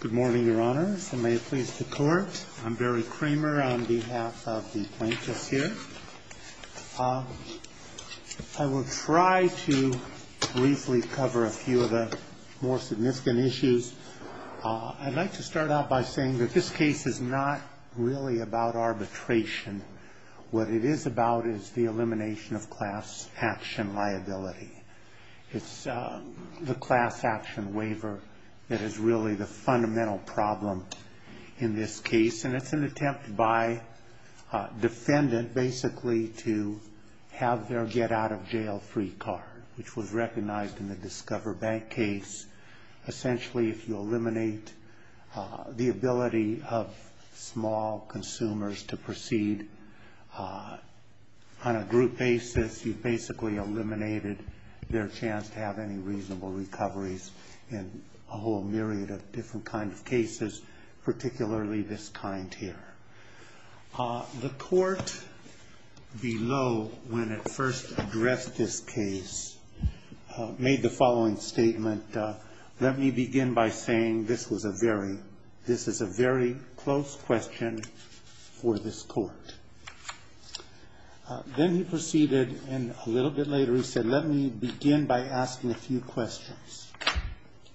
Good morning, Your Honors, and may it please the Court. I'm Barry Kramer on behalf of the plaintiffs here. I will try to briefly cover a few of the more significant issues. I'd like to start out by saying that this case is not really about arbitration. What it is about is the elimination of class action liability. It's the class action waiver that is really the fundamental problem in this case, and it's an attempt by a defendant basically to have their get-out-of-jail-free card, which was recognized in the Discover Bank case. Essentially, if you eliminate the ability of small consumers to proceed on a group basis, you've basically eliminated their chance to have any reasonable recoveries in a whole myriad of different kinds of cases, particularly this kind here. The Court below, when it first addressed this case, made the following statement. Let me begin by saying this is a very close question for this Court. Then he proceeded, and a little bit later he said, let me begin by asking a few questions.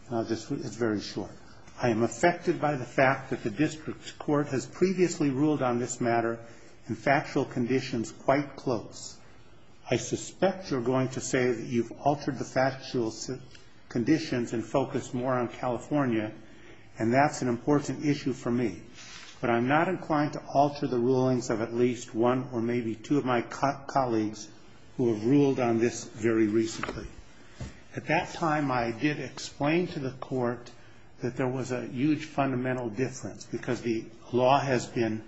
It's very short. I am affected by the fact that the District Court has previously ruled on this matter in factual conditions quite close. I suspect you're going to say that you've altered the factual conditions and focused more on California, and that's an important issue for me. But I'm not inclined to alter the rulings of at least one or maybe two of my colleagues who have ruled on this very recently. At that time, I did explain to the Court that there was a huge fundamental difference because the law has been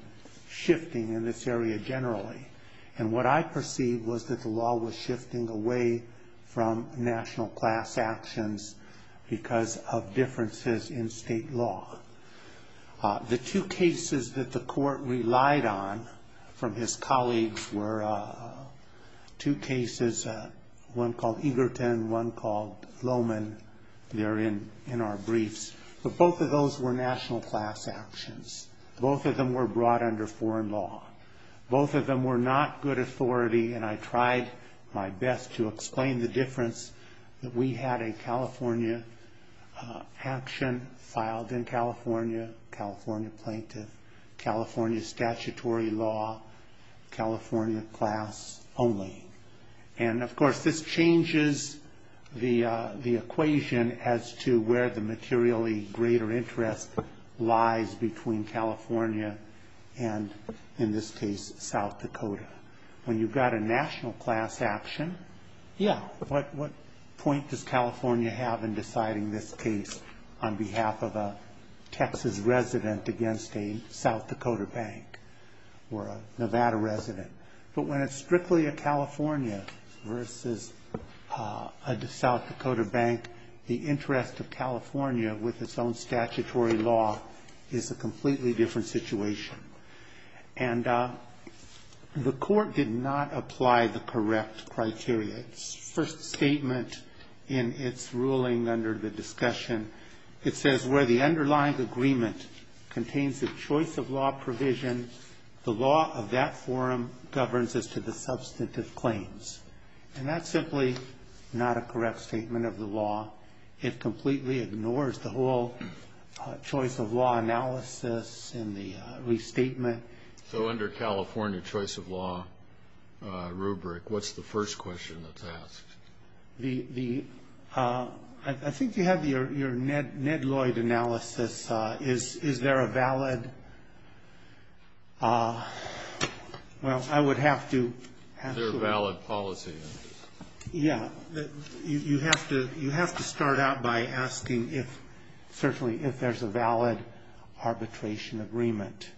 shifting in this area generally, and what I perceived was that the law was shifting away from national class actions because of differences in state law. The two cases that the Court relied on from his colleagues were two cases, one called Eagleton, one called Lowman. They're in our briefs. But both of those were national class actions. Both of them were brought under foreign law. Both of them were not good authority, and I tried my best to explain the difference that we had a California action filed in California, California plaintiff, California statutory law, California class only. And, of course, this changes the equation as to where the materially greater interest lies between California and, in this case, South Dakota. When you've got a national class action, yeah, what point does California have in deciding this case on behalf of a Texas resident against a South Dakota bank or a Nevada resident? But when it's strictly a California versus a South Dakota bank, the interest of California with its own statutory law is a completely different situation. And the Court did not apply the correct criteria. Its first statement in its ruling under the discussion, it says, where the underlying agreement contains the choice of law provision, the law of that forum governs as to the substantive claims. And that's simply not a correct statement of the law. It completely ignores the whole choice of law analysis and the restatement. So under California choice of law rubric, what's the first question that's asked? I think you have your Ned Lloyd analysis. Is there a valid – well, I would have to – Is there a valid policy? Yeah, you have to start out by asking if – certainly if there's a valid arbitration agreement.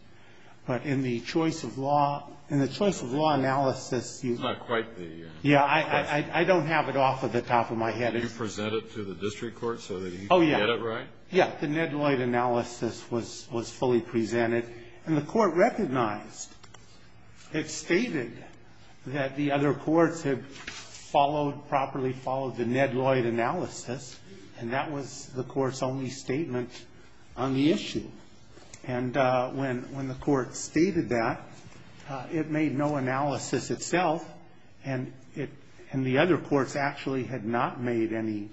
But in the choice of law – in the choice of law analysis, you – That's not quite the question. Yeah, I don't have it off the top of my head. Did you present it to the district court so that he could get it right? Oh, yeah. Yeah, the Ned Lloyd analysis was fully presented. And the court recognized, it stated that the other courts had followed, properly followed the Ned Lloyd analysis. And that was the court's only statement on the issue. And when the court stated that, it made no analysis itself. And it – and the other courts actually had not made any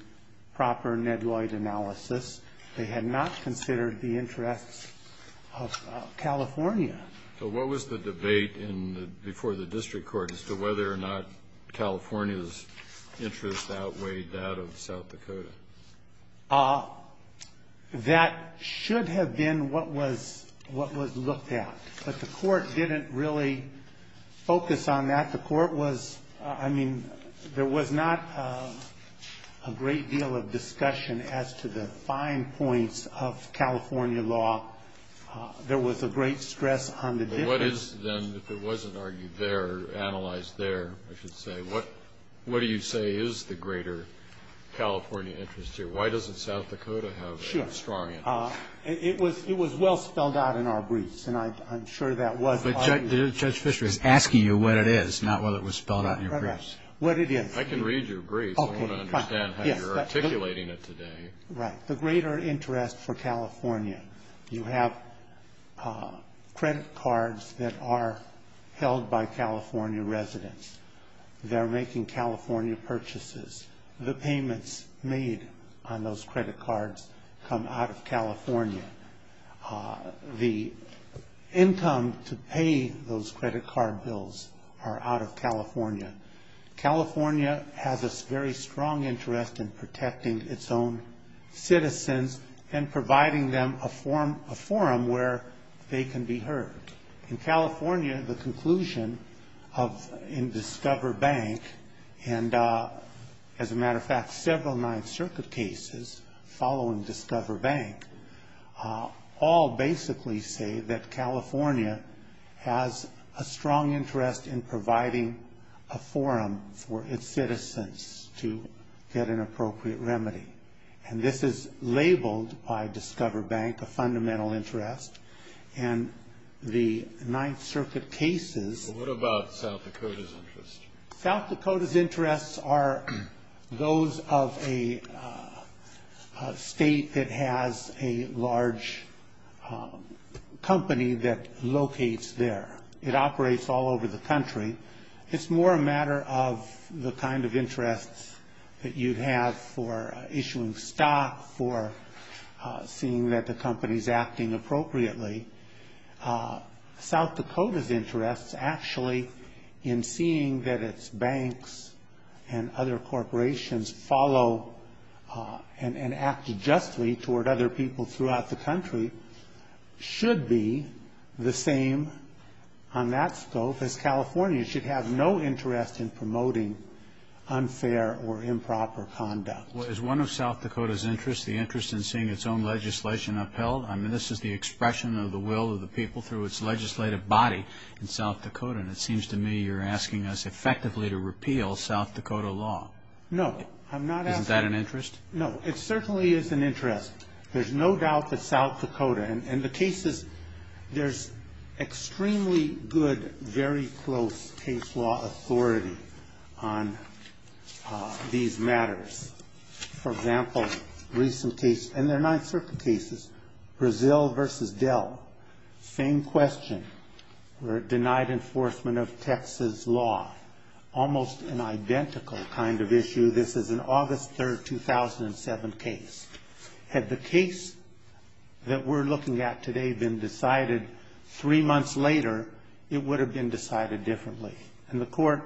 proper Ned Lloyd analysis. They had not considered the interests of California. So what was the debate in the – before the district court as to whether or not California's interests outweighed that of South Dakota? That should have been what was – what was looked at. But the court didn't really focus on that. The court was – I mean, there was not a great deal of discussion as to the fine points of California law. There was a great stress on the difference. What is, then, if it wasn't argued there, analyzed there, I should say, what do you say is the greater California interest here? Why doesn't South Dakota have a historian? Sure. It was well spelled out in our briefs. And I'm sure that was argued. But Judge Fischer is asking you what it is, not whether it was spelled out in your briefs. What it is. I can read your brief. Okay. I don't understand how you're articulating it today. Right. The greater interest for California. You have credit cards that are held by California residents. They're making California purchases. The payments made on those credit cards come out of California. The income to pay those credit card bills are out of California. California has a very strong interest in protecting its own citizens and providing them a forum where they can be heard. In California, the conclusion in Discover Bank and, as a matter of fact, several Ninth Circuit cases following Discover Bank, all basically say that California has a strong interest in providing a forum for its citizens to get an appropriate remedy. And this is labeled by Discover Bank a fundamental interest. And the Ninth Circuit cases. What about South Dakota's interest? South Dakota's interests are those of a state that has a large company that locates there. It operates all over the country. It's more a matter of the kind of interests that you'd have for issuing stock, for seeing that the company's acting appropriately. South Dakota's interest, actually, in seeing that its banks and other corporations follow and act justly toward other people throughout the country, should be the same on that scope as California. It should have no interest in promoting unfair or improper conduct. Is one of South Dakota's interests the interest in seeing its own legislation upheld? I mean, this is the expression of the will of the people through its legislative body in South Dakota. And it seems to me you're asking us effectively to repeal South Dakota law. No. I'm not asking. Isn't that an interest? No. It certainly is an interest. There's no doubt that South Dakota, and the cases, there's extremely good, very close case law authority on these matters. For example, recent case, and they're Ninth Circuit cases, Brazil versus Dell. Same question where it denied enforcement of Texas law. Almost an identical kind of issue. This is an August 3, 2007 case. Had the case that we're looking at today been decided three months later, it would have been decided differently. And the court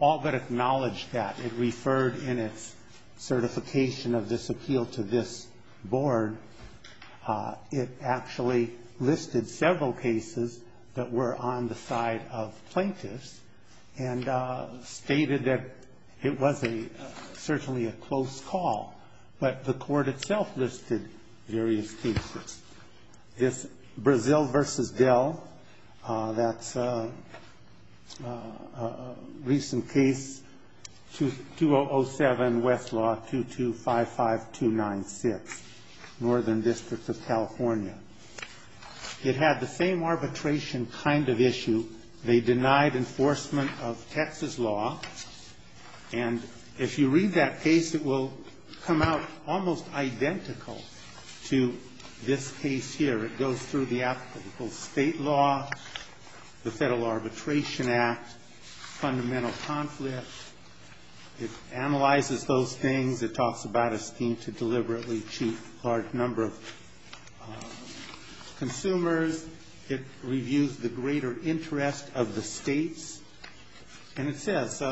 all but acknowledged that. It referred in its certification of this appeal to this board. It actually listed several cases that were on the side of plaintiffs and stated that it was certainly a close call. But the court itself listed various cases. This Brazil versus Dell, that's a recent case, 2007 Westlaw 2255296, Northern District of California. It had the same arbitration kind of issue. They denied enforcement of Texas law. And if you read that case, it will come out almost identical to this case here. It goes through the applicable state law, the Federal Arbitration Act, fundamental conflict. It analyzes those things. It talks about a scheme to deliberately cheat a large number of consumers. It reviews the greater interest of the states. And it says,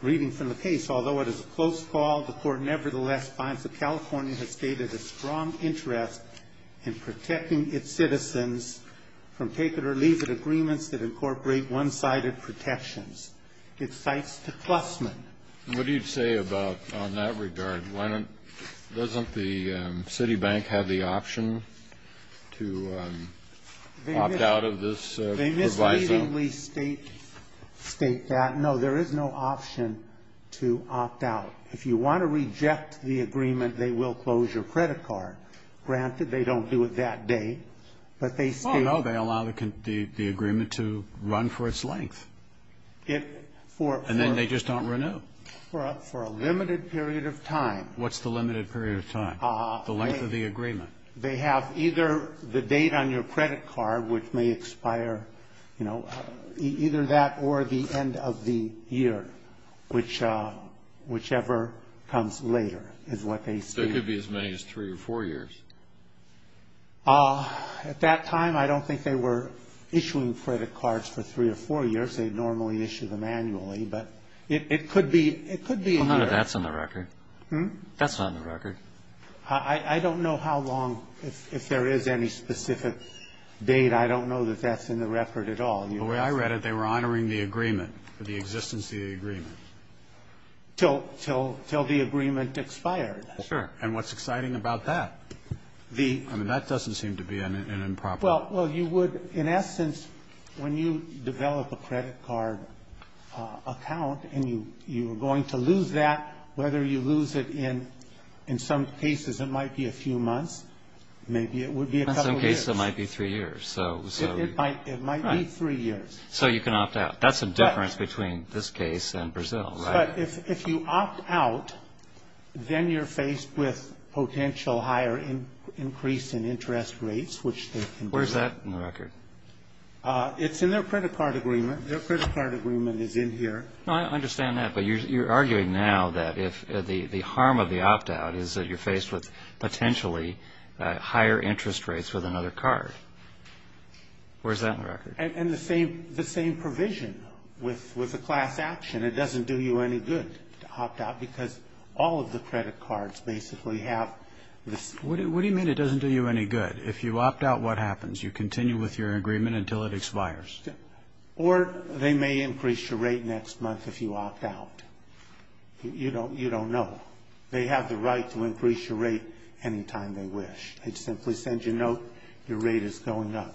reading from the case, although it is a close call, the court nevertheless finds that California has stated a strong interest in protecting its citizens from take-it-or-leave-it agreements that incorporate one-sided protections. It cites to Klussman. Kennedy. What do you say about, on that regard, doesn't the Citibank have the option to opt out of this proviso? Can you please state that? No, there is no option to opt out. If you want to reject the agreement, they will close your credit card. Granted, they don't do it that day. Oh, no, they allow the agreement to run for its length. And then they just don't renew. For a limited period of time. What's the limited period of time? The length of the agreement. They have either the date on your credit card, which may expire, you know, either that or the end of the year, whichever comes later, is what they state. There could be as many as three or four years. At that time, I don't think they were issuing credit cards for three or four years. They normally issue them annually. But it could be a year. Well, none of that's on the record. That's not on the record. I don't know how long, if there is any specific date. I don't know that that's in the record at all. The way I read it, they were honoring the agreement, the existence of the agreement. Till the agreement expired. Sure. And what's exciting about that? I mean, that doesn't seem to be an improper. Well, you would, in essence, when you develop a credit card account and you are going to lose that, whether you lose it in some cases, it might be a few months, maybe it would be a couple years. In some cases, it might be three years. It might be three years. So you can opt out. That's the difference between this case and Brazil, right? But if you opt out, then you're faced with potential higher increase in interest rates, which they can do. Where's that in the record? It's in their credit card agreement. Their credit card agreement is in here. No, I understand that. But you're arguing now that if the harm of the opt out is that you're faced with potentially higher interest rates with another card. Where's that in the record? And the same provision with the class action. It doesn't do you any good to opt out because all of the credit cards basically have this. What do you mean it doesn't do you any good? If you opt out, what happens? You continue with your agreement until it expires. Or they may increase your rate next month if you opt out. You don't know. They have the right to increase your rate any time they wish. They simply send you a note, your rate is going up.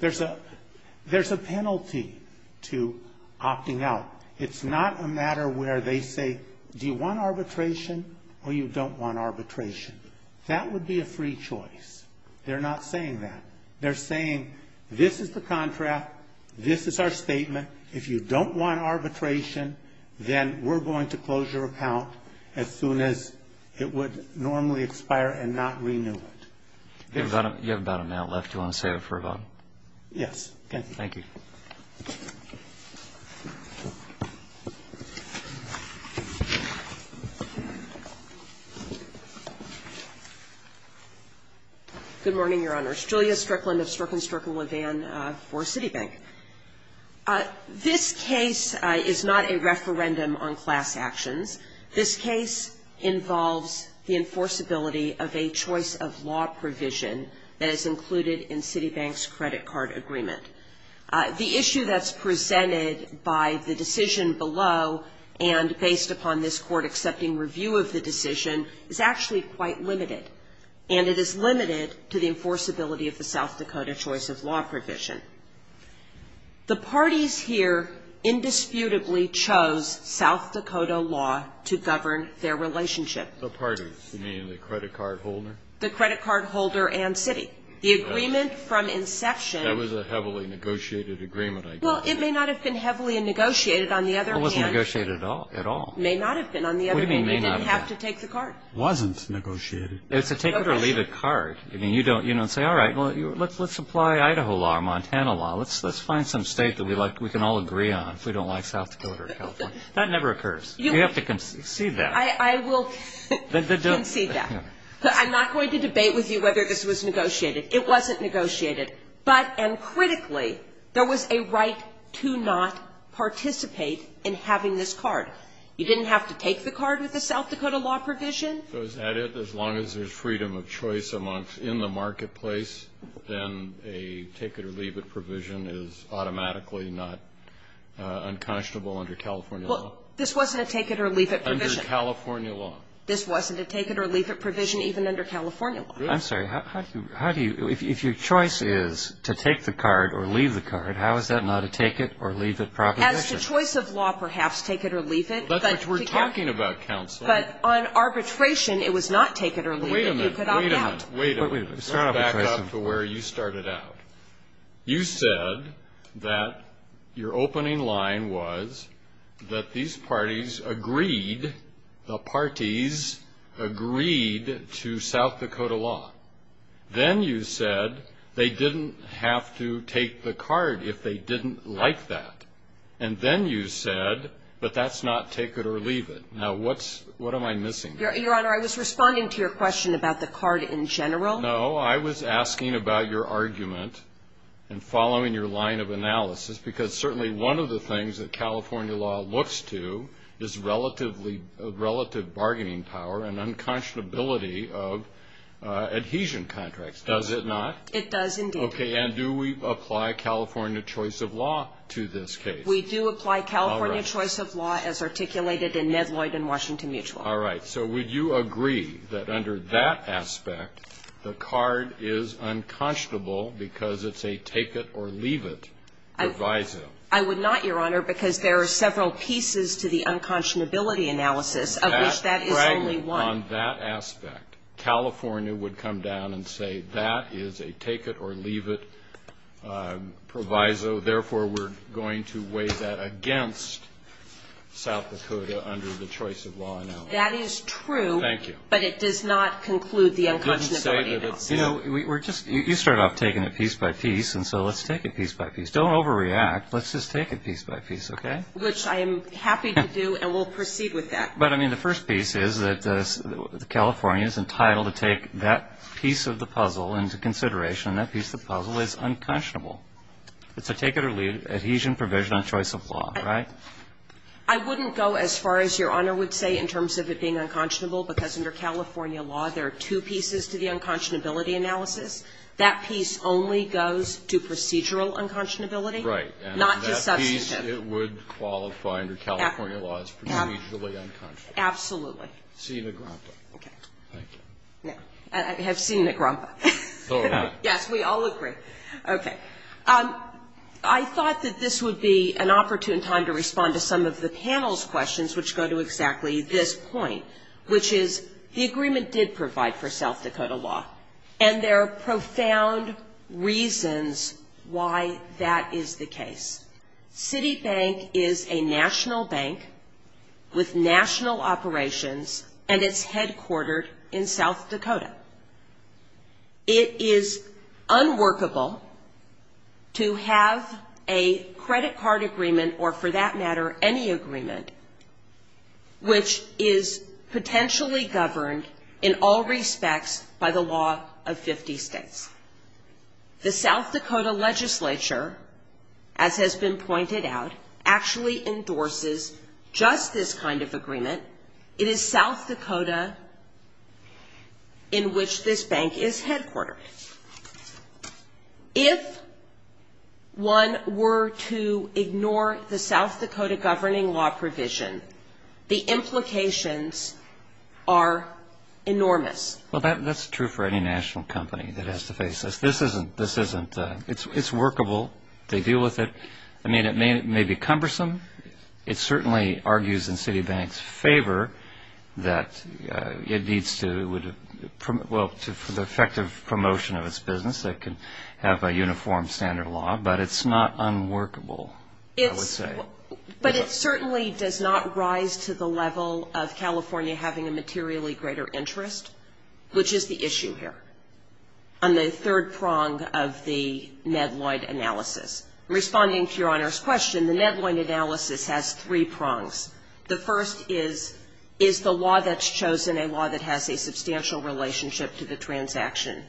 There's a penalty to opting out. It's not a matter where they say, do you want arbitration or you don't want arbitration. That would be a free choice. They're not saying that. They're saying this is the contract, this is our statement. If you don't want arbitration, then we're going to close your account as soon as it would normally expire and not renew it. You have about an hour left. Do you want to save it for a vote? Yes. Thank you. Thank you. Good morning, Your Honors. Julia Strickland of Strickland-Strickland-Levan for Citibank. This case is not a referendum on class actions. This case involves the enforceability of a choice of law provision that is included in Citibank's credit card agreement. The issue that's presented by the decision below and based upon this Court accepting review of the decision is actually quite limited. And it is limited to the enforceability of the South Dakota choice of law provision. The parties here indisputably chose South Dakota law to govern their relationship. The parties, you mean the credit card holder? The credit card holder and city. The agreement from inception. That was a heavily negotiated agreement, I guess. Well, it may not have been heavily negotiated on the other hand. It wasn't negotiated at all. It may not have been on the other hand. They didn't have to take the card. It wasn't negotiated. It's a take-it-or-leave-it card. I mean, you don't say, all right, let's apply Idaho law or Montana law. Let's find some State that we can all agree on if we don't like South Dakota or California. That never occurs. You have to concede that. I will concede that. I'm not going to debate with you whether this was negotiated. It wasn't negotiated. But, and critically, there was a right to not participate in having this card. You didn't have to take the card with the South Dakota law provision. So is that it? As long as there's freedom of choice in the marketplace, then a take-it-or-leave-it provision is automatically not unconscionable under California law? Well, this wasn't a take-it-or-leave-it provision. Under California law. This wasn't a take-it-or-leave-it provision even under California law. I'm sorry. How do you – if your choice is to take the card or leave the card, how is that not a take-it-or-leave-it proposition? As to choice of law, perhaps, take-it-or-leave-it. That's what we're talking about, counsel. But on arbitration, it was not take-it-or-leave-it. You could opt out. Wait a minute. Wait a minute. Back up to where you started out. You said that your opening line was that these parties agreed, the parties agreed to South Dakota law. Then you said they didn't have to take the card if they didn't like that. And then you said, but that's not take-it-or-leave-it. Now, what's – what am I missing? Your Honor, I was responding to your question about the card in general. No. I was asking about your argument and following your line of analysis, because certainly one of the things that California law looks to is relatively – relative bargaining power and unconscionability of adhesion contracts, does it not? It does, indeed. Okay. And do we apply California choice of law to this case? We do apply California choice of law. All right. As articulated in Medloyd and Washington Mutual. All right. So would you agree that under that aspect, the card is unconscionable because it's a take-it-or-leave-it proviso? I would not, Your Honor, because there are several pieces to the unconscionability analysis of which that is only one. On that aspect, California would come down and say that is a take-it-or-leave-it proviso. So, therefore, we're going to weigh that against South Dakota under the choice of law analysis. That is true. Thank you. But it does not conclude the unconscionability. You know, you start off taking it piece by piece, and so let's take it piece by piece. Don't overreact. Let's just take it piece by piece, okay? Which I am happy to do, and we'll proceed with that. But, I mean, the first piece is that California is entitled to take that piece of the puzzle into consideration, and that piece of the puzzle is unconscionable. It's a take-it-or-leave-it adhesion provision on choice of law, right? I wouldn't go as far as Your Honor would say in terms of it being unconscionable, because under California law, there are two pieces to the unconscionability analysis. That piece only goes to procedural unconscionability, not to substantive. Right. And that piece, it would qualify under California law as procedurally unconscionable. Absolutely. Seeing a grandpa. Okay. Thank you. I have seen a grandpa. So have I. Yes, we all agree. Okay. I thought that this would be an opportune time to respond to some of the panel's questions, which go to exactly this point, which is, the agreement did provide for South Dakota law, and there are profound reasons why that is the case. Citibank is a national bank with national operations, and it's headquartered in South Dakota. It is unworkable to have a credit card agreement, or for that matter, any agreement, which is potentially governed in all respects by the law of 50 states. The South Dakota legislature, as has been pointed out, actually endorses just this kind of agreement. It is South Dakota in which this bank is headquartered. If one were to ignore the South Dakota governing law provision, the implications are enormous. Well, that's true for any national company that has to face this. This isn't. This isn't. It's workable. They deal with it. I mean, it may be cumbersome. It certainly argues in Citibank's favor that it needs to, well, for the effective promotion of its business, it can have a uniform standard of law, but it's not unworkable, I would say. But it certainly does not rise to the level of California having a materially greater interest, which is the issue here, on the third prong of the Medloyd analysis. Responding to Your Honor's question, the Medloyd analysis has three prongs. The first is, is the law that's chosen a law that has a substantial relationship to the transaction?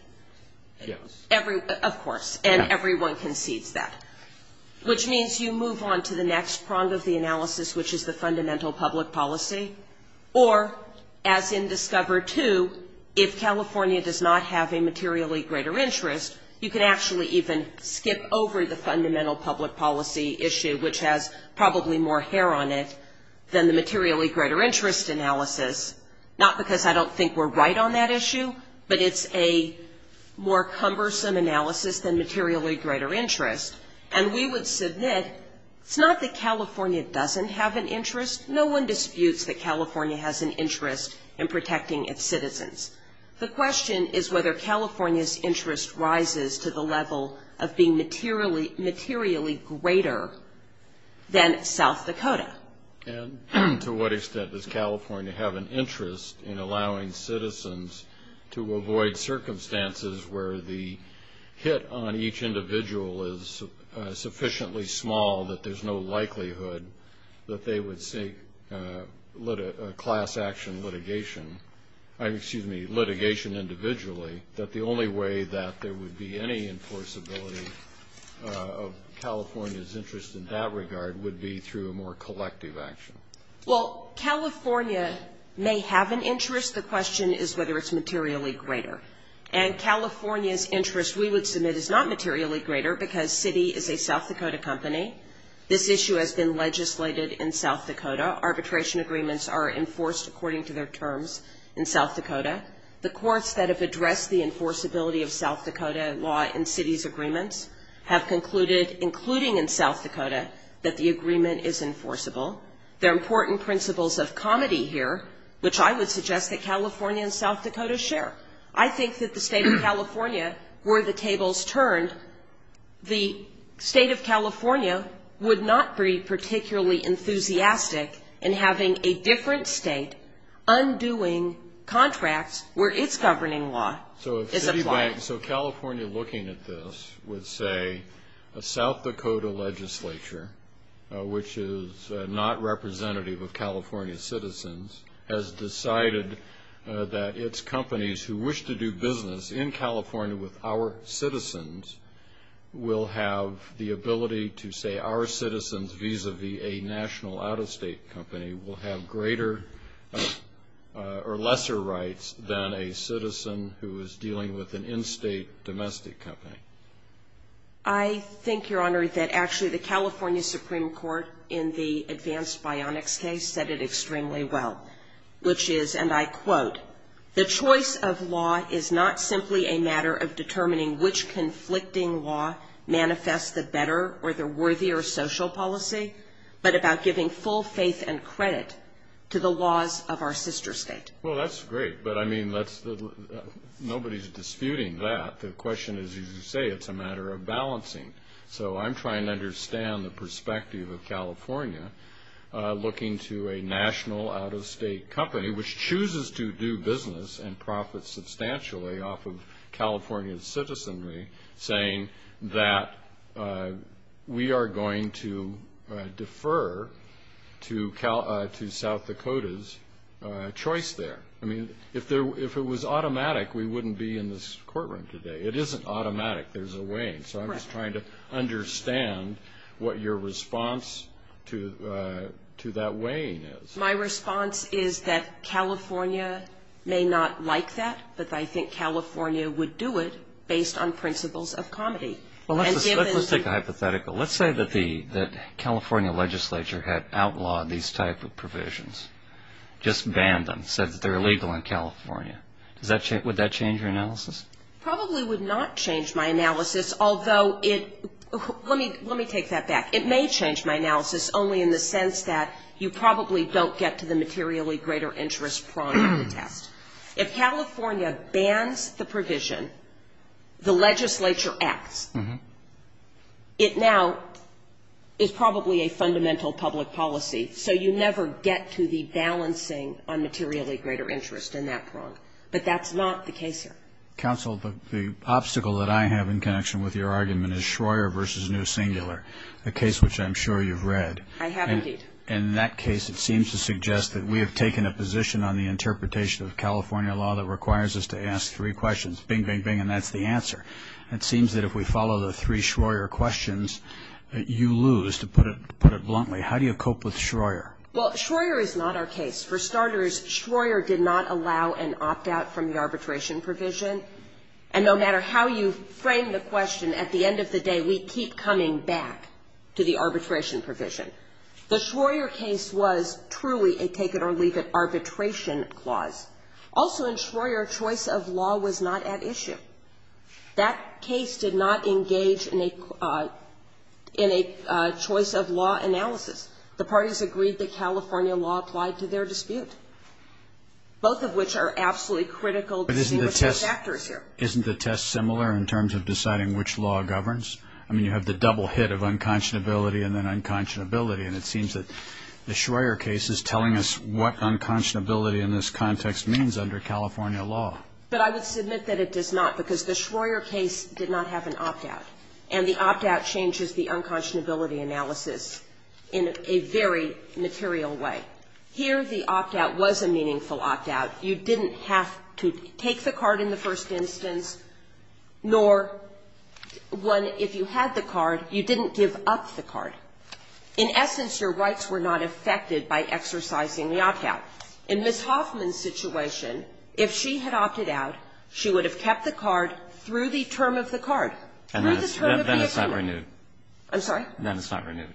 Yes. Of course. And everyone concedes that. Which means you move on to the next prong of the analysis, which is the fundamental public policy, or, as in Discover II, if California does not have a materially greater interest, you can actually even skip over the fundamental public policy issue, which has probably more hair on it than the materially greater interest analysis. Not because I don't think we're right on that issue, but it's a more cumbersome analysis than materially greater interest. And we would submit, it's not that California doesn't have an interest. No one disputes that California has an interest in protecting its citizens. The question is whether California's interest rises to the level of being materially greater than South Dakota. And to what extent does California have an interest in allowing citizens to avoid circumstances where the hit on each individual is sufficiently small that there's no transaction litigation, excuse me, litigation individually, that the only way that there would be any enforceability of California's interest in that regard would be through a more collective action? Well, California may have an interest. The question is whether it's materially greater. And California's interest, we would submit, is not materially greater because Citi is a South Dakota company. This issue has been legislated in South Dakota. Arbitration agreements are enforced according to their terms in South Dakota. The courts that have addressed the enforceability of South Dakota law in Citi's agreements have concluded, including in South Dakota, that the agreement is enforceable. There are important principles of comity here, which I would suggest that California and South Dakota share. I think that the State of California, were the tables turned, the State of California would not be particularly enthusiastic in having a different state undoing contracts where its governing law is applied. So California, looking at this, would say a South Dakota legislature, which is not representative of California's citizens, has decided that its companies who wish to do vis-a-vis a national out-of-state company will have greater or lesser rights than a citizen who is dealing with an in-state domestic company. I think, Your Honor, that actually the California Supreme Court in the advanced bionics case said it extremely well, which is, and I quote, the choice of law is not simply a matter of determining which conflicting law manifests the better or the worthier social policy, but about giving full faith and credit to the laws of our sister state. Well, that's great, but I mean, nobody's disputing that. The question is, as you say, it's a matter of balancing. So I'm trying to understand the perspective of California looking to a national out-of-state company, which chooses to do business and profit substantially off of We are going to defer to South Dakota's choice there. I mean, if it was automatic, we wouldn't be in this courtroom today. It isn't automatic. There's a weighing. So I'm just trying to understand what your response to that weighing is. My response is that California may not like that, but I think California would do it based on principles of comedy. Well, let's take a hypothetical. Let's say that the California legislature had outlawed these type of provisions, just banned them, said that they're illegal in California. Would that change your analysis? Probably would not change my analysis, although it, let me take that back. It may change my analysis, only in the sense that you probably don't get to the materially greater interest prong of the test. If California bans the provision, the legislature acts, it now is probably a fundamental public policy. So you never get to the balancing on materially greater interest in that prong. But that's not the case here. Counsel, the obstacle that I have in connection with your argument is Schroer v. New Singular, a case which I'm sure you've read. I have, indeed. And in that case, it seems to suggest that we have taken a position on the interpretation of California law that requires us to ask three questions. Bing, bing, bing, and that's the answer. It seems that if we follow the three Schroer questions, you lose, to put it bluntly. How do you cope with Schroer? Well, Schroer is not our case. For starters, Schroer did not allow an opt-out from the arbitration provision. And no matter how you frame the question, at the end of the day, we keep coming back to the arbitration provision. The Schroer case was truly a take-it-or-leave-it arbitration clause. Also in Schroer, choice of law was not at issue. That case did not engage in a choice-of-law analysis. The parties agreed that California law applied to their dispute, both of which are absolutely critical to see what the factor is here. But isn't the test similar in terms of deciding which law governs? I mean, you have the double hit of unconscionability and then unconscionability. And it seems that the Schroer case is telling us what unconscionability in this context means under California law. But I would submit that it does not, because the Schroer case did not have an opt-out. And the opt-out changes the unconscionability analysis in a very material way. Here, the opt-out was a meaningful opt-out. You didn't have to take the card in the first instance, nor, one, if you had the card, you didn't give up the card. In essence, your rights were not affected by exercising the opt-out. In Ms. Hoffman's situation, if she had opted out, she would have kept the card through the term of the card, through the term of the agreement. Breyer. And then it's not renewed. I'm sorry? Then it's not renewed.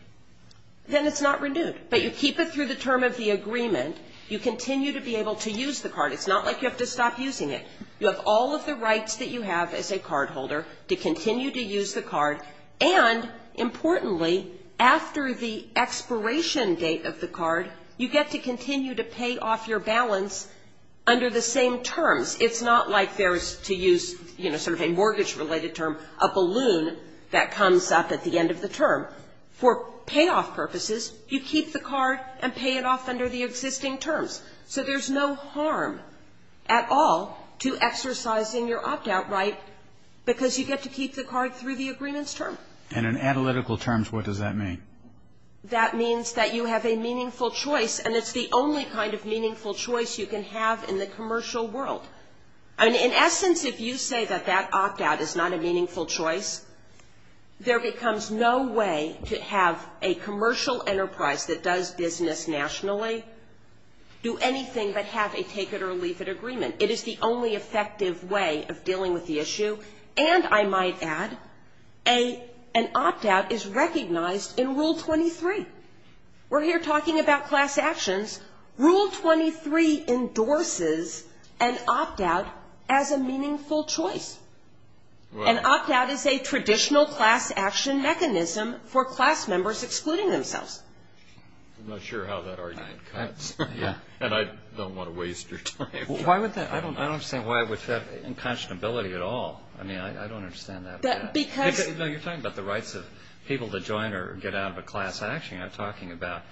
Then it's not renewed. But you keep it through the term of the agreement. You continue to be able to use the card. It's not like you have to stop using it. You have all of the rights that you have as a cardholder to continue to use the card. And, importantly, after the expiration date of the card, you get to continue to pay off your balance under the same terms. It's not like there's, to use, you know, sort of a mortgage-related term, a balloon that comes up at the end of the term. For payoff purposes, you keep the card and pay it off under the existing terms. So there's no harm at all to exercising your opt-out right, because you get to keep the card through the agreement's term. And in analytical terms, what does that mean? That means that you have a meaningful choice, and it's the only kind of meaningful choice you can have in the commercial world. I mean, in essence, if you say that that opt-out is not a meaningful choice, there becomes no way to have a commercial enterprise that does business nationally do anything but have a take-it-or-leave-it agreement. It is the only effective way of dealing with the issue. And, I might add, an opt-out is recognized in Rule 23. We're here talking about class actions. Rule 23 endorses an opt-out as a meaningful choice. An opt-out is a traditional class action mechanism for class members excluding themselves. I'm not sure how that argument cuts. Yeah. And I don't want to waste your time. Why would that? I don't understand why would that have unconscionability at all. I mean, I don't understand that at all. Because you're talking about the rights of people to join or get out of a class action. You're not talking about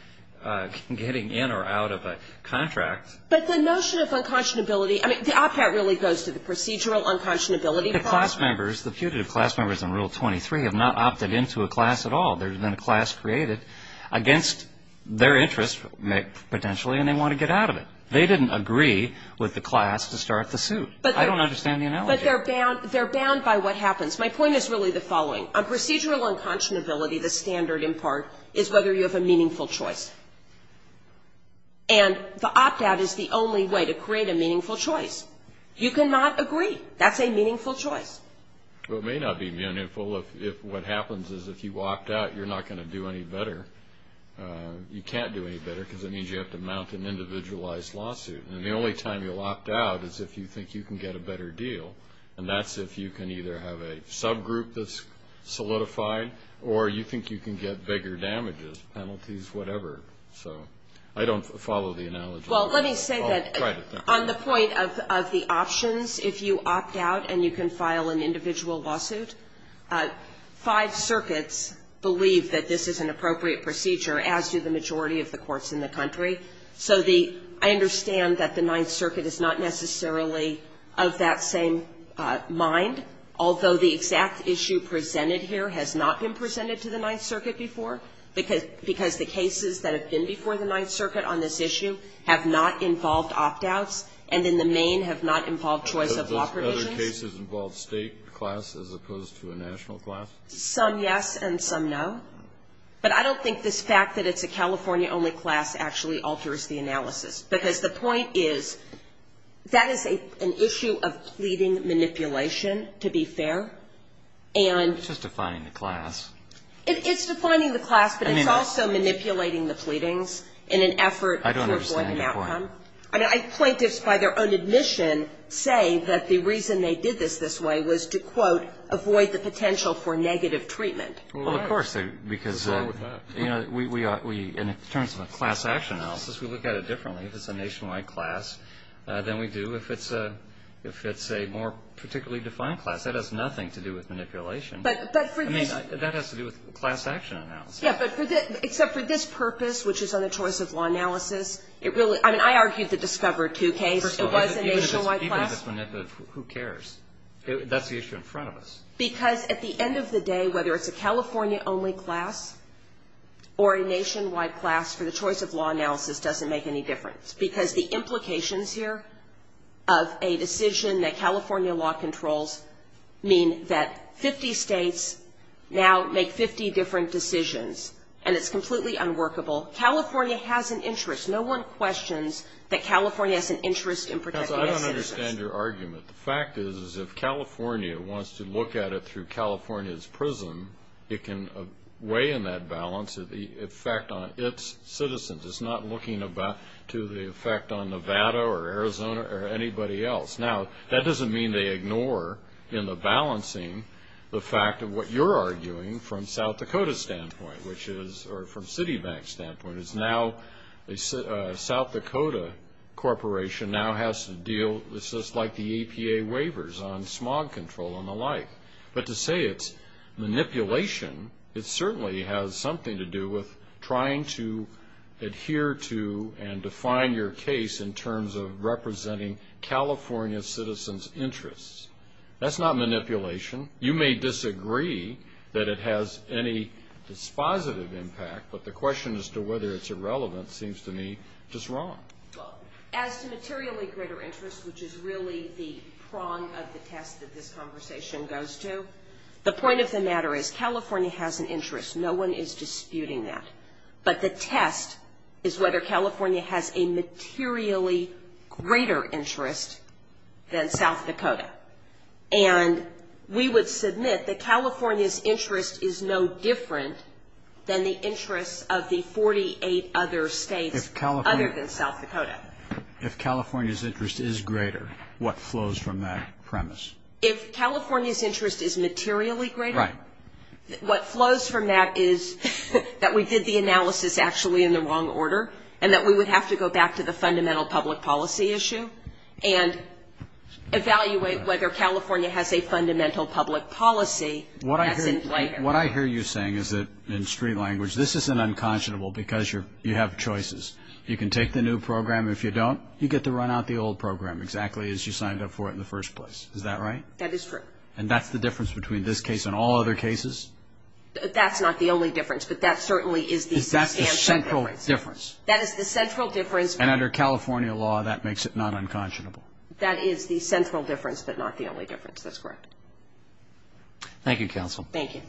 getting in or out of a contract. But the notion of unconscionability, I mean, The opt-out really goes to the procedural unconscionability part. The class members, the putative class members in Rule 23 have not opted into a class at all. There's been a class created against their interests potentially, and they want to get out of it. They didn't agree with the class to start the suit. I don't understand the analogy. But they're bound by what happens. My point is really the following. On procedural unconscionability, the standard, in part, is whether you have a meaningful choice. And the opt-out is the only way to create a meaningful choice. You cannot agree. That's a meaningful choice. Well, it may not be meaningful if what happens is if you opt out, you're not going to do any better. You can't do any better because it means you have to mount an individualized lawsuit. And the only time you'll opt out is if you think you can get a better deal, and that's if you can either have a subgroup that's solidified or you think you can get bigger damages, penalties, whatever. So I don't follow the analogy. Well, let me say that on the point of the options, if you opt out and you can file an individual lawsuit, five circuits believe that this is an appropriate procedure, as do the majority of the courts in the country. So I understand that the Ninth Circuit is not necessarily of that same mind, although the exact issue presented here has not been presented to the Ninth Circuit before, because the cases that have been before the Ninth Circuit on this issue have not involved opt-outs and in the main have not involved choice of law provisions. Other cases involve State class as opposed to a national class? Some yes and some no. But I don't think this fact that it's a California-only class actually alters the analysis, because the point is that is an issue of pleading manipulation, to be fair. And ---- It's just defining the class. It's defining the class, but it's also manipulating the pleadings in an effort to avoid an outcome. I don't understand your point. I mean, plaintiffs, by their own admission, say that the reason they did this this way was to, quote, avoid the potential for negative treatment. Well, of course, because we are, in terms of a class action analysis, we look at it differently. If it's a nationwide class, then we do. If it's a more particularly defined class, that has nothing to do with manipulation. But for this ---- I mean, that has to do with class action analysis. Yes, but for this ---- except for this purpose, which is on a choice of law analysis, it really ---- I mean, I argued the Discover II case. It was a nationwide class. Even if it's manipulative, who cares? That's the issue in front of us. Because at the end of the day, whether it's a California-only class or a nationwide class for the choice of law analysis doesn't make any difference. Because the implications here of a decision that California law controls mean that 50 states now make 50 different decisions, and it's completely unworkable. California has an interest. No one questions that California has an interest in protecting its citizens. Counsel, I don't understand your argument. The fact is, is if California wants to look at it through California's prism, it can weigh in that balance of the effect on its citizens. It's not looking to the effect on Nevada or Arizona or anybody else. Now, that doesn't mean they ignore in the balancing the fact of what you're arguing from South Dakota's standpoint, which is ---- or from Citibank's standpoint, is now a South Dakota corporation now has to deal ---- it's just like the EPA waivers on smog control and the like. But to say it's manipulation, it certainly has something to do with trying to adhere to and define your case in terms of representing California citizens' interests. That's not manipulation. You may disagree that it has any dispositive impact, but the question as to whether it's irrelevant seems to me just wrong. Well, as to materially greater interest, which is really the prong of the test that this conversation goes to, the point of the matter is California has an interest. No one is disputing that. But the test is whether California has a materially greater interest than South Dakota. And we would submit that California's interest is no different than the interests of the 48 other States other than South Dakota. But if California's interest is greater, what flows from that premise? If California's interest is materially greater, what flows from that is that we did the analysis actually in the wrong order and that we would have to go back to the fundamental public policy issue and evaluate whether California has a fundamental public policy that's in play here. What I hear you saying is that, in street language, this isn't unconscionable because you have choices. You can take the new program. If you don't, you get to run out the old program exactly as you signed up for it in the first place. Is that right? That is true. And that's the difference between this case and all other cases? That's not the only difference, but that certainly is the substantial difference. That's the central difference. That is the central difference. And under California law, that makes it not unconscionable. That is the central difference, but not the only difference. That's correct. Thank you, Counsel. Thank you.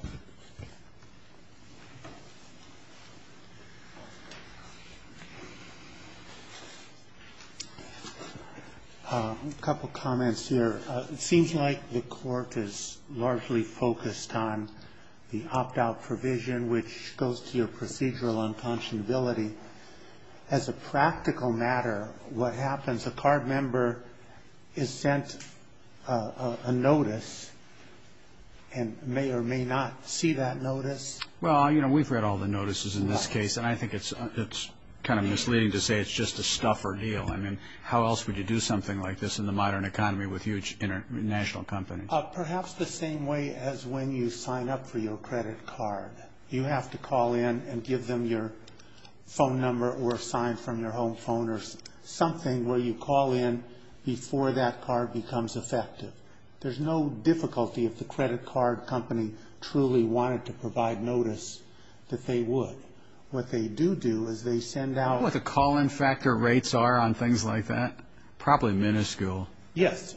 A couple comments here. It seems like the court is largely focused on the opt-out provision, which goes to your procedural unconscionability. As a practical matter, what happens, a card member is sent a notice and may or may not see that notice? Well, you know, we've read all the notices in this case, and I think it's kind of misleading to say it's just a stuffer deal. I mean, how else would you do something like this in the modern economy with huge international companies? Perhaps the same way as when you sign up for your credit card. You have to call in and give them your phone number or sign from your home phone or something where you call in before that card becomes effective. There's no difficulty if the credit card company truly wanted to provide notice that they would. What they do do is they send out- Do you know what the call-in factor rates are on things like that? Probably minuscule. Yes,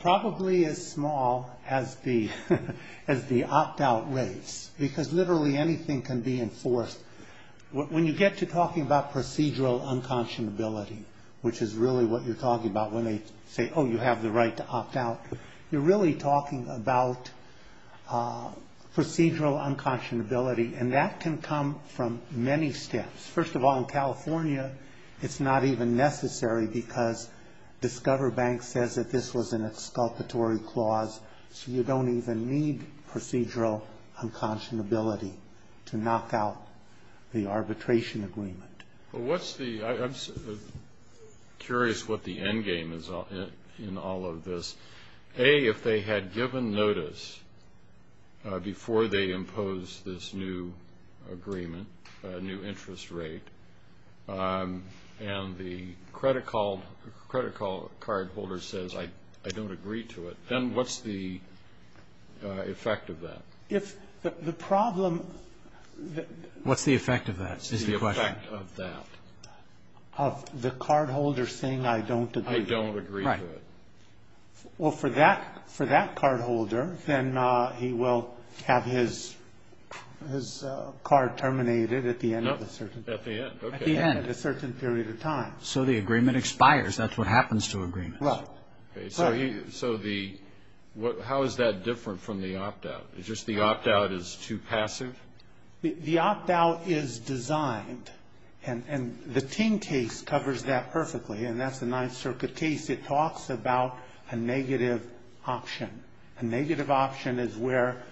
probably as small as the opt-out rates, because literally anything can be enforced. When you get to talking about procedural unconscionability, which is really what you're talking about when they say, oh, you have the right to opt out, you're really talking about procedural unconscionability, and that can come from many steps. First of all, in California, it's not even necessary because Discover Bank says that this was an exculpatory clause, so you don't even need procedural unconscionability to knock out the arbitration agreement. I'm curious what the endgame is in all of this. A, if they had given notice before they imposed this new agreement, new interest rate, and the credit card holder says, I don't agree to it, then what's the effect of that? If the problem- What's the effect of that is the question. The effect of that. Of the card holder saying, I don't agree. Right. Well, for that card holder, then he will have his card terminated at the end of a certain period of time. So the agreement expires. That's what happens to agreements. Right. So how is that different from the opt-out? Is just the opt-out is too passive? The opt-out is designed, and the Ting case covers that perfectly, and that's the Ninth Circuit case. It talks about a negative option. A negative option is where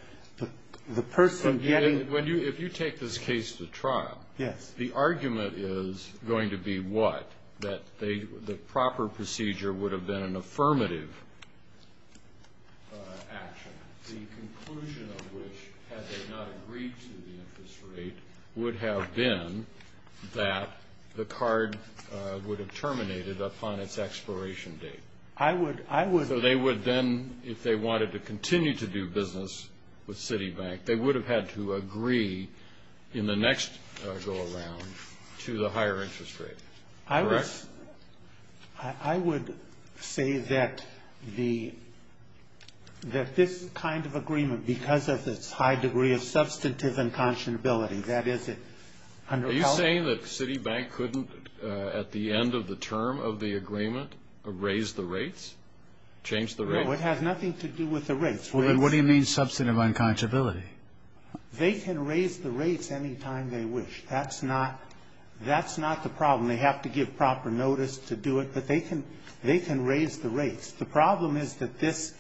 the person getting- If you take this case to trial- Yes. The argument is going to be what? That the proper procedure would have been an affirmative action, the conclusion of which, had they not agreed to the interest rate, would have been that the card would have terminated upon its expiration date. I would- So they would then, if they wanted to continue to do business with Citibank, they would have had to agree in the next go-around to the higher interest rate. Correct? I would say that this kind of agreement, because of its high degree of substantive unconscionability, that is- Are you saying that Citibank couldn't, at the end of the term of the agreement, raise the rates, change the rates? No, it has nothing to do with the rates. What do you mean, substantive unconscionability? They can raise the rates any time they wish. That's not the problem. They have to give proper notice to do it, but they can raise the rates. The problem is that this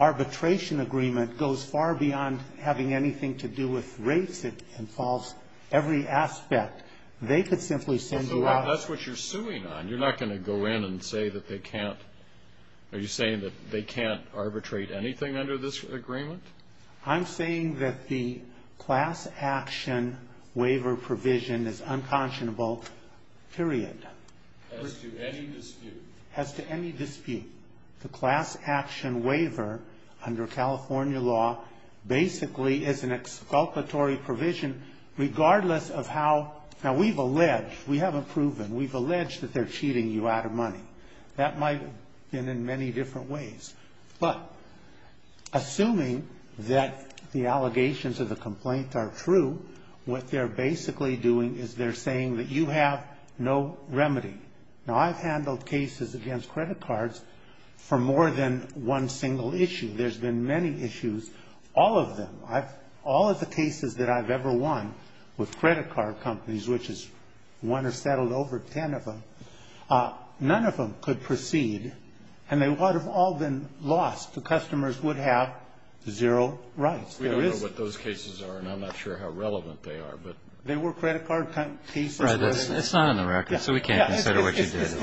arbitration agreement goes far beyond having anything to do with rates. It involves every aspect. They could simply send you out- That's what you're suing on. You're not going to go in and say that they can't-are you saying that they can't arbitrate anything under this agreement? I'm saying that the class action waiver provision is unconscionable, period. As to any dispute? As to any dispute, the class action waiver under California law basically is an exculpatory provision regardless of how- Now, we've alleged-we haven't proven-we've alleged that they're cheating you out of money. That might have been in many different ways. But assuming that the allegations of the complaint are true, what they're basically doing is they're saying that you have no remedy. Now, I've handled cases against credit cards for more than one single issue. There's been many issues, all of them. All of the cases that I've ever won with credit card companies, which is one or settled over ten of them, none of them could proceed, and they would have all been lost. The customers would have zero rights. We don't know what those cases are, and I'm not sure how relevant they are, but- They were credit card cases- It's not on the record, so we can't consider what you did.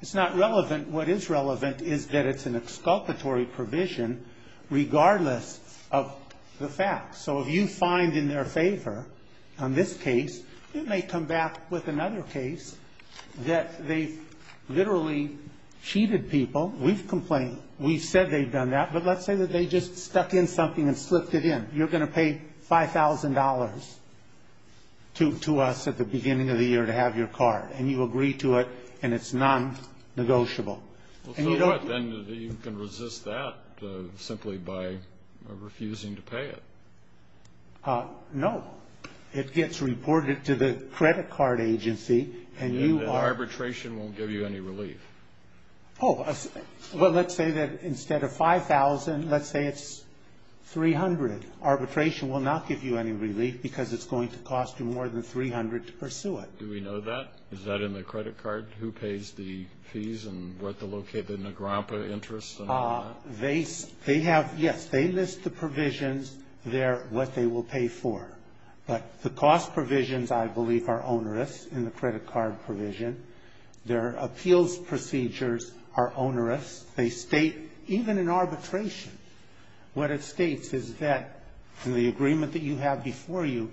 It's not relevant. What is relevant is that it's an exculpatory provision regardless of the facts. So if you find in their favor on this case, it may come back with another case that they've literally cheated people. We've complained. We've said they've done that. But let's say that they just stuck in something and slipped it in. You're going to pay $5,000 to us at the beginning of the year to have your card, and you agree to it, and it's non-negotiable. So what? Then you can resist that simply by refusing to pay it. No. It gets reported to the credit card agency, and you are- And the arbitration won't give you any relief. Oh, well, let's say that instead of $5,000, let's say it's $300. Arbitration will not give you any relief because it's going to cost you more than $300 to pursue it. Do we know that? Is that in the credit card? Who pays the fees and where to locate the Nagrampa interest and all that? They have-yes, they list the provisions there, what they will pay for. But the cost provisions, I believe, are onerous in the credit card provision. Their appeals procedures are onerous. They state, even in arbitration, what it states is that in the agreement that you have before you,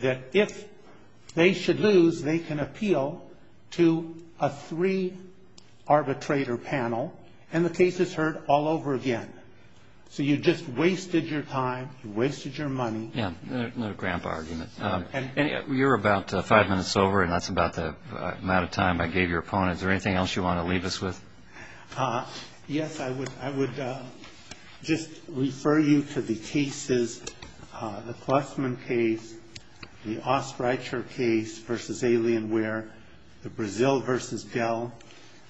that if they should lose, they can appeal to a three-arbitrator panel, and the case is heard all over again. So you just wasted your time. You wasted your money. Yes, the Nagrampa argument. You're about five minutes over, and that's about the amount of time I gave your opponent. Is there anything else you want to leave us with? Yes. I would just refer you to the cases, the Klusman case, the Ostreicher case versus Alienware, the Brazil versus Dell.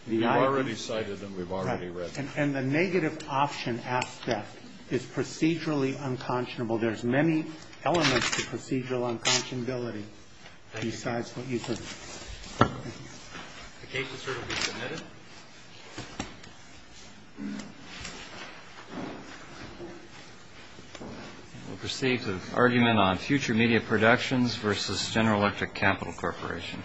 We've already cited them. We've already read them. And the negative option aspect is procedurally unconscionable. So there's many elements to procedural unconscionability besides what you said. The case is certainly submitted. We'll proceed to the argument on future media productions versus General Electric Capital Corporation. Thank you.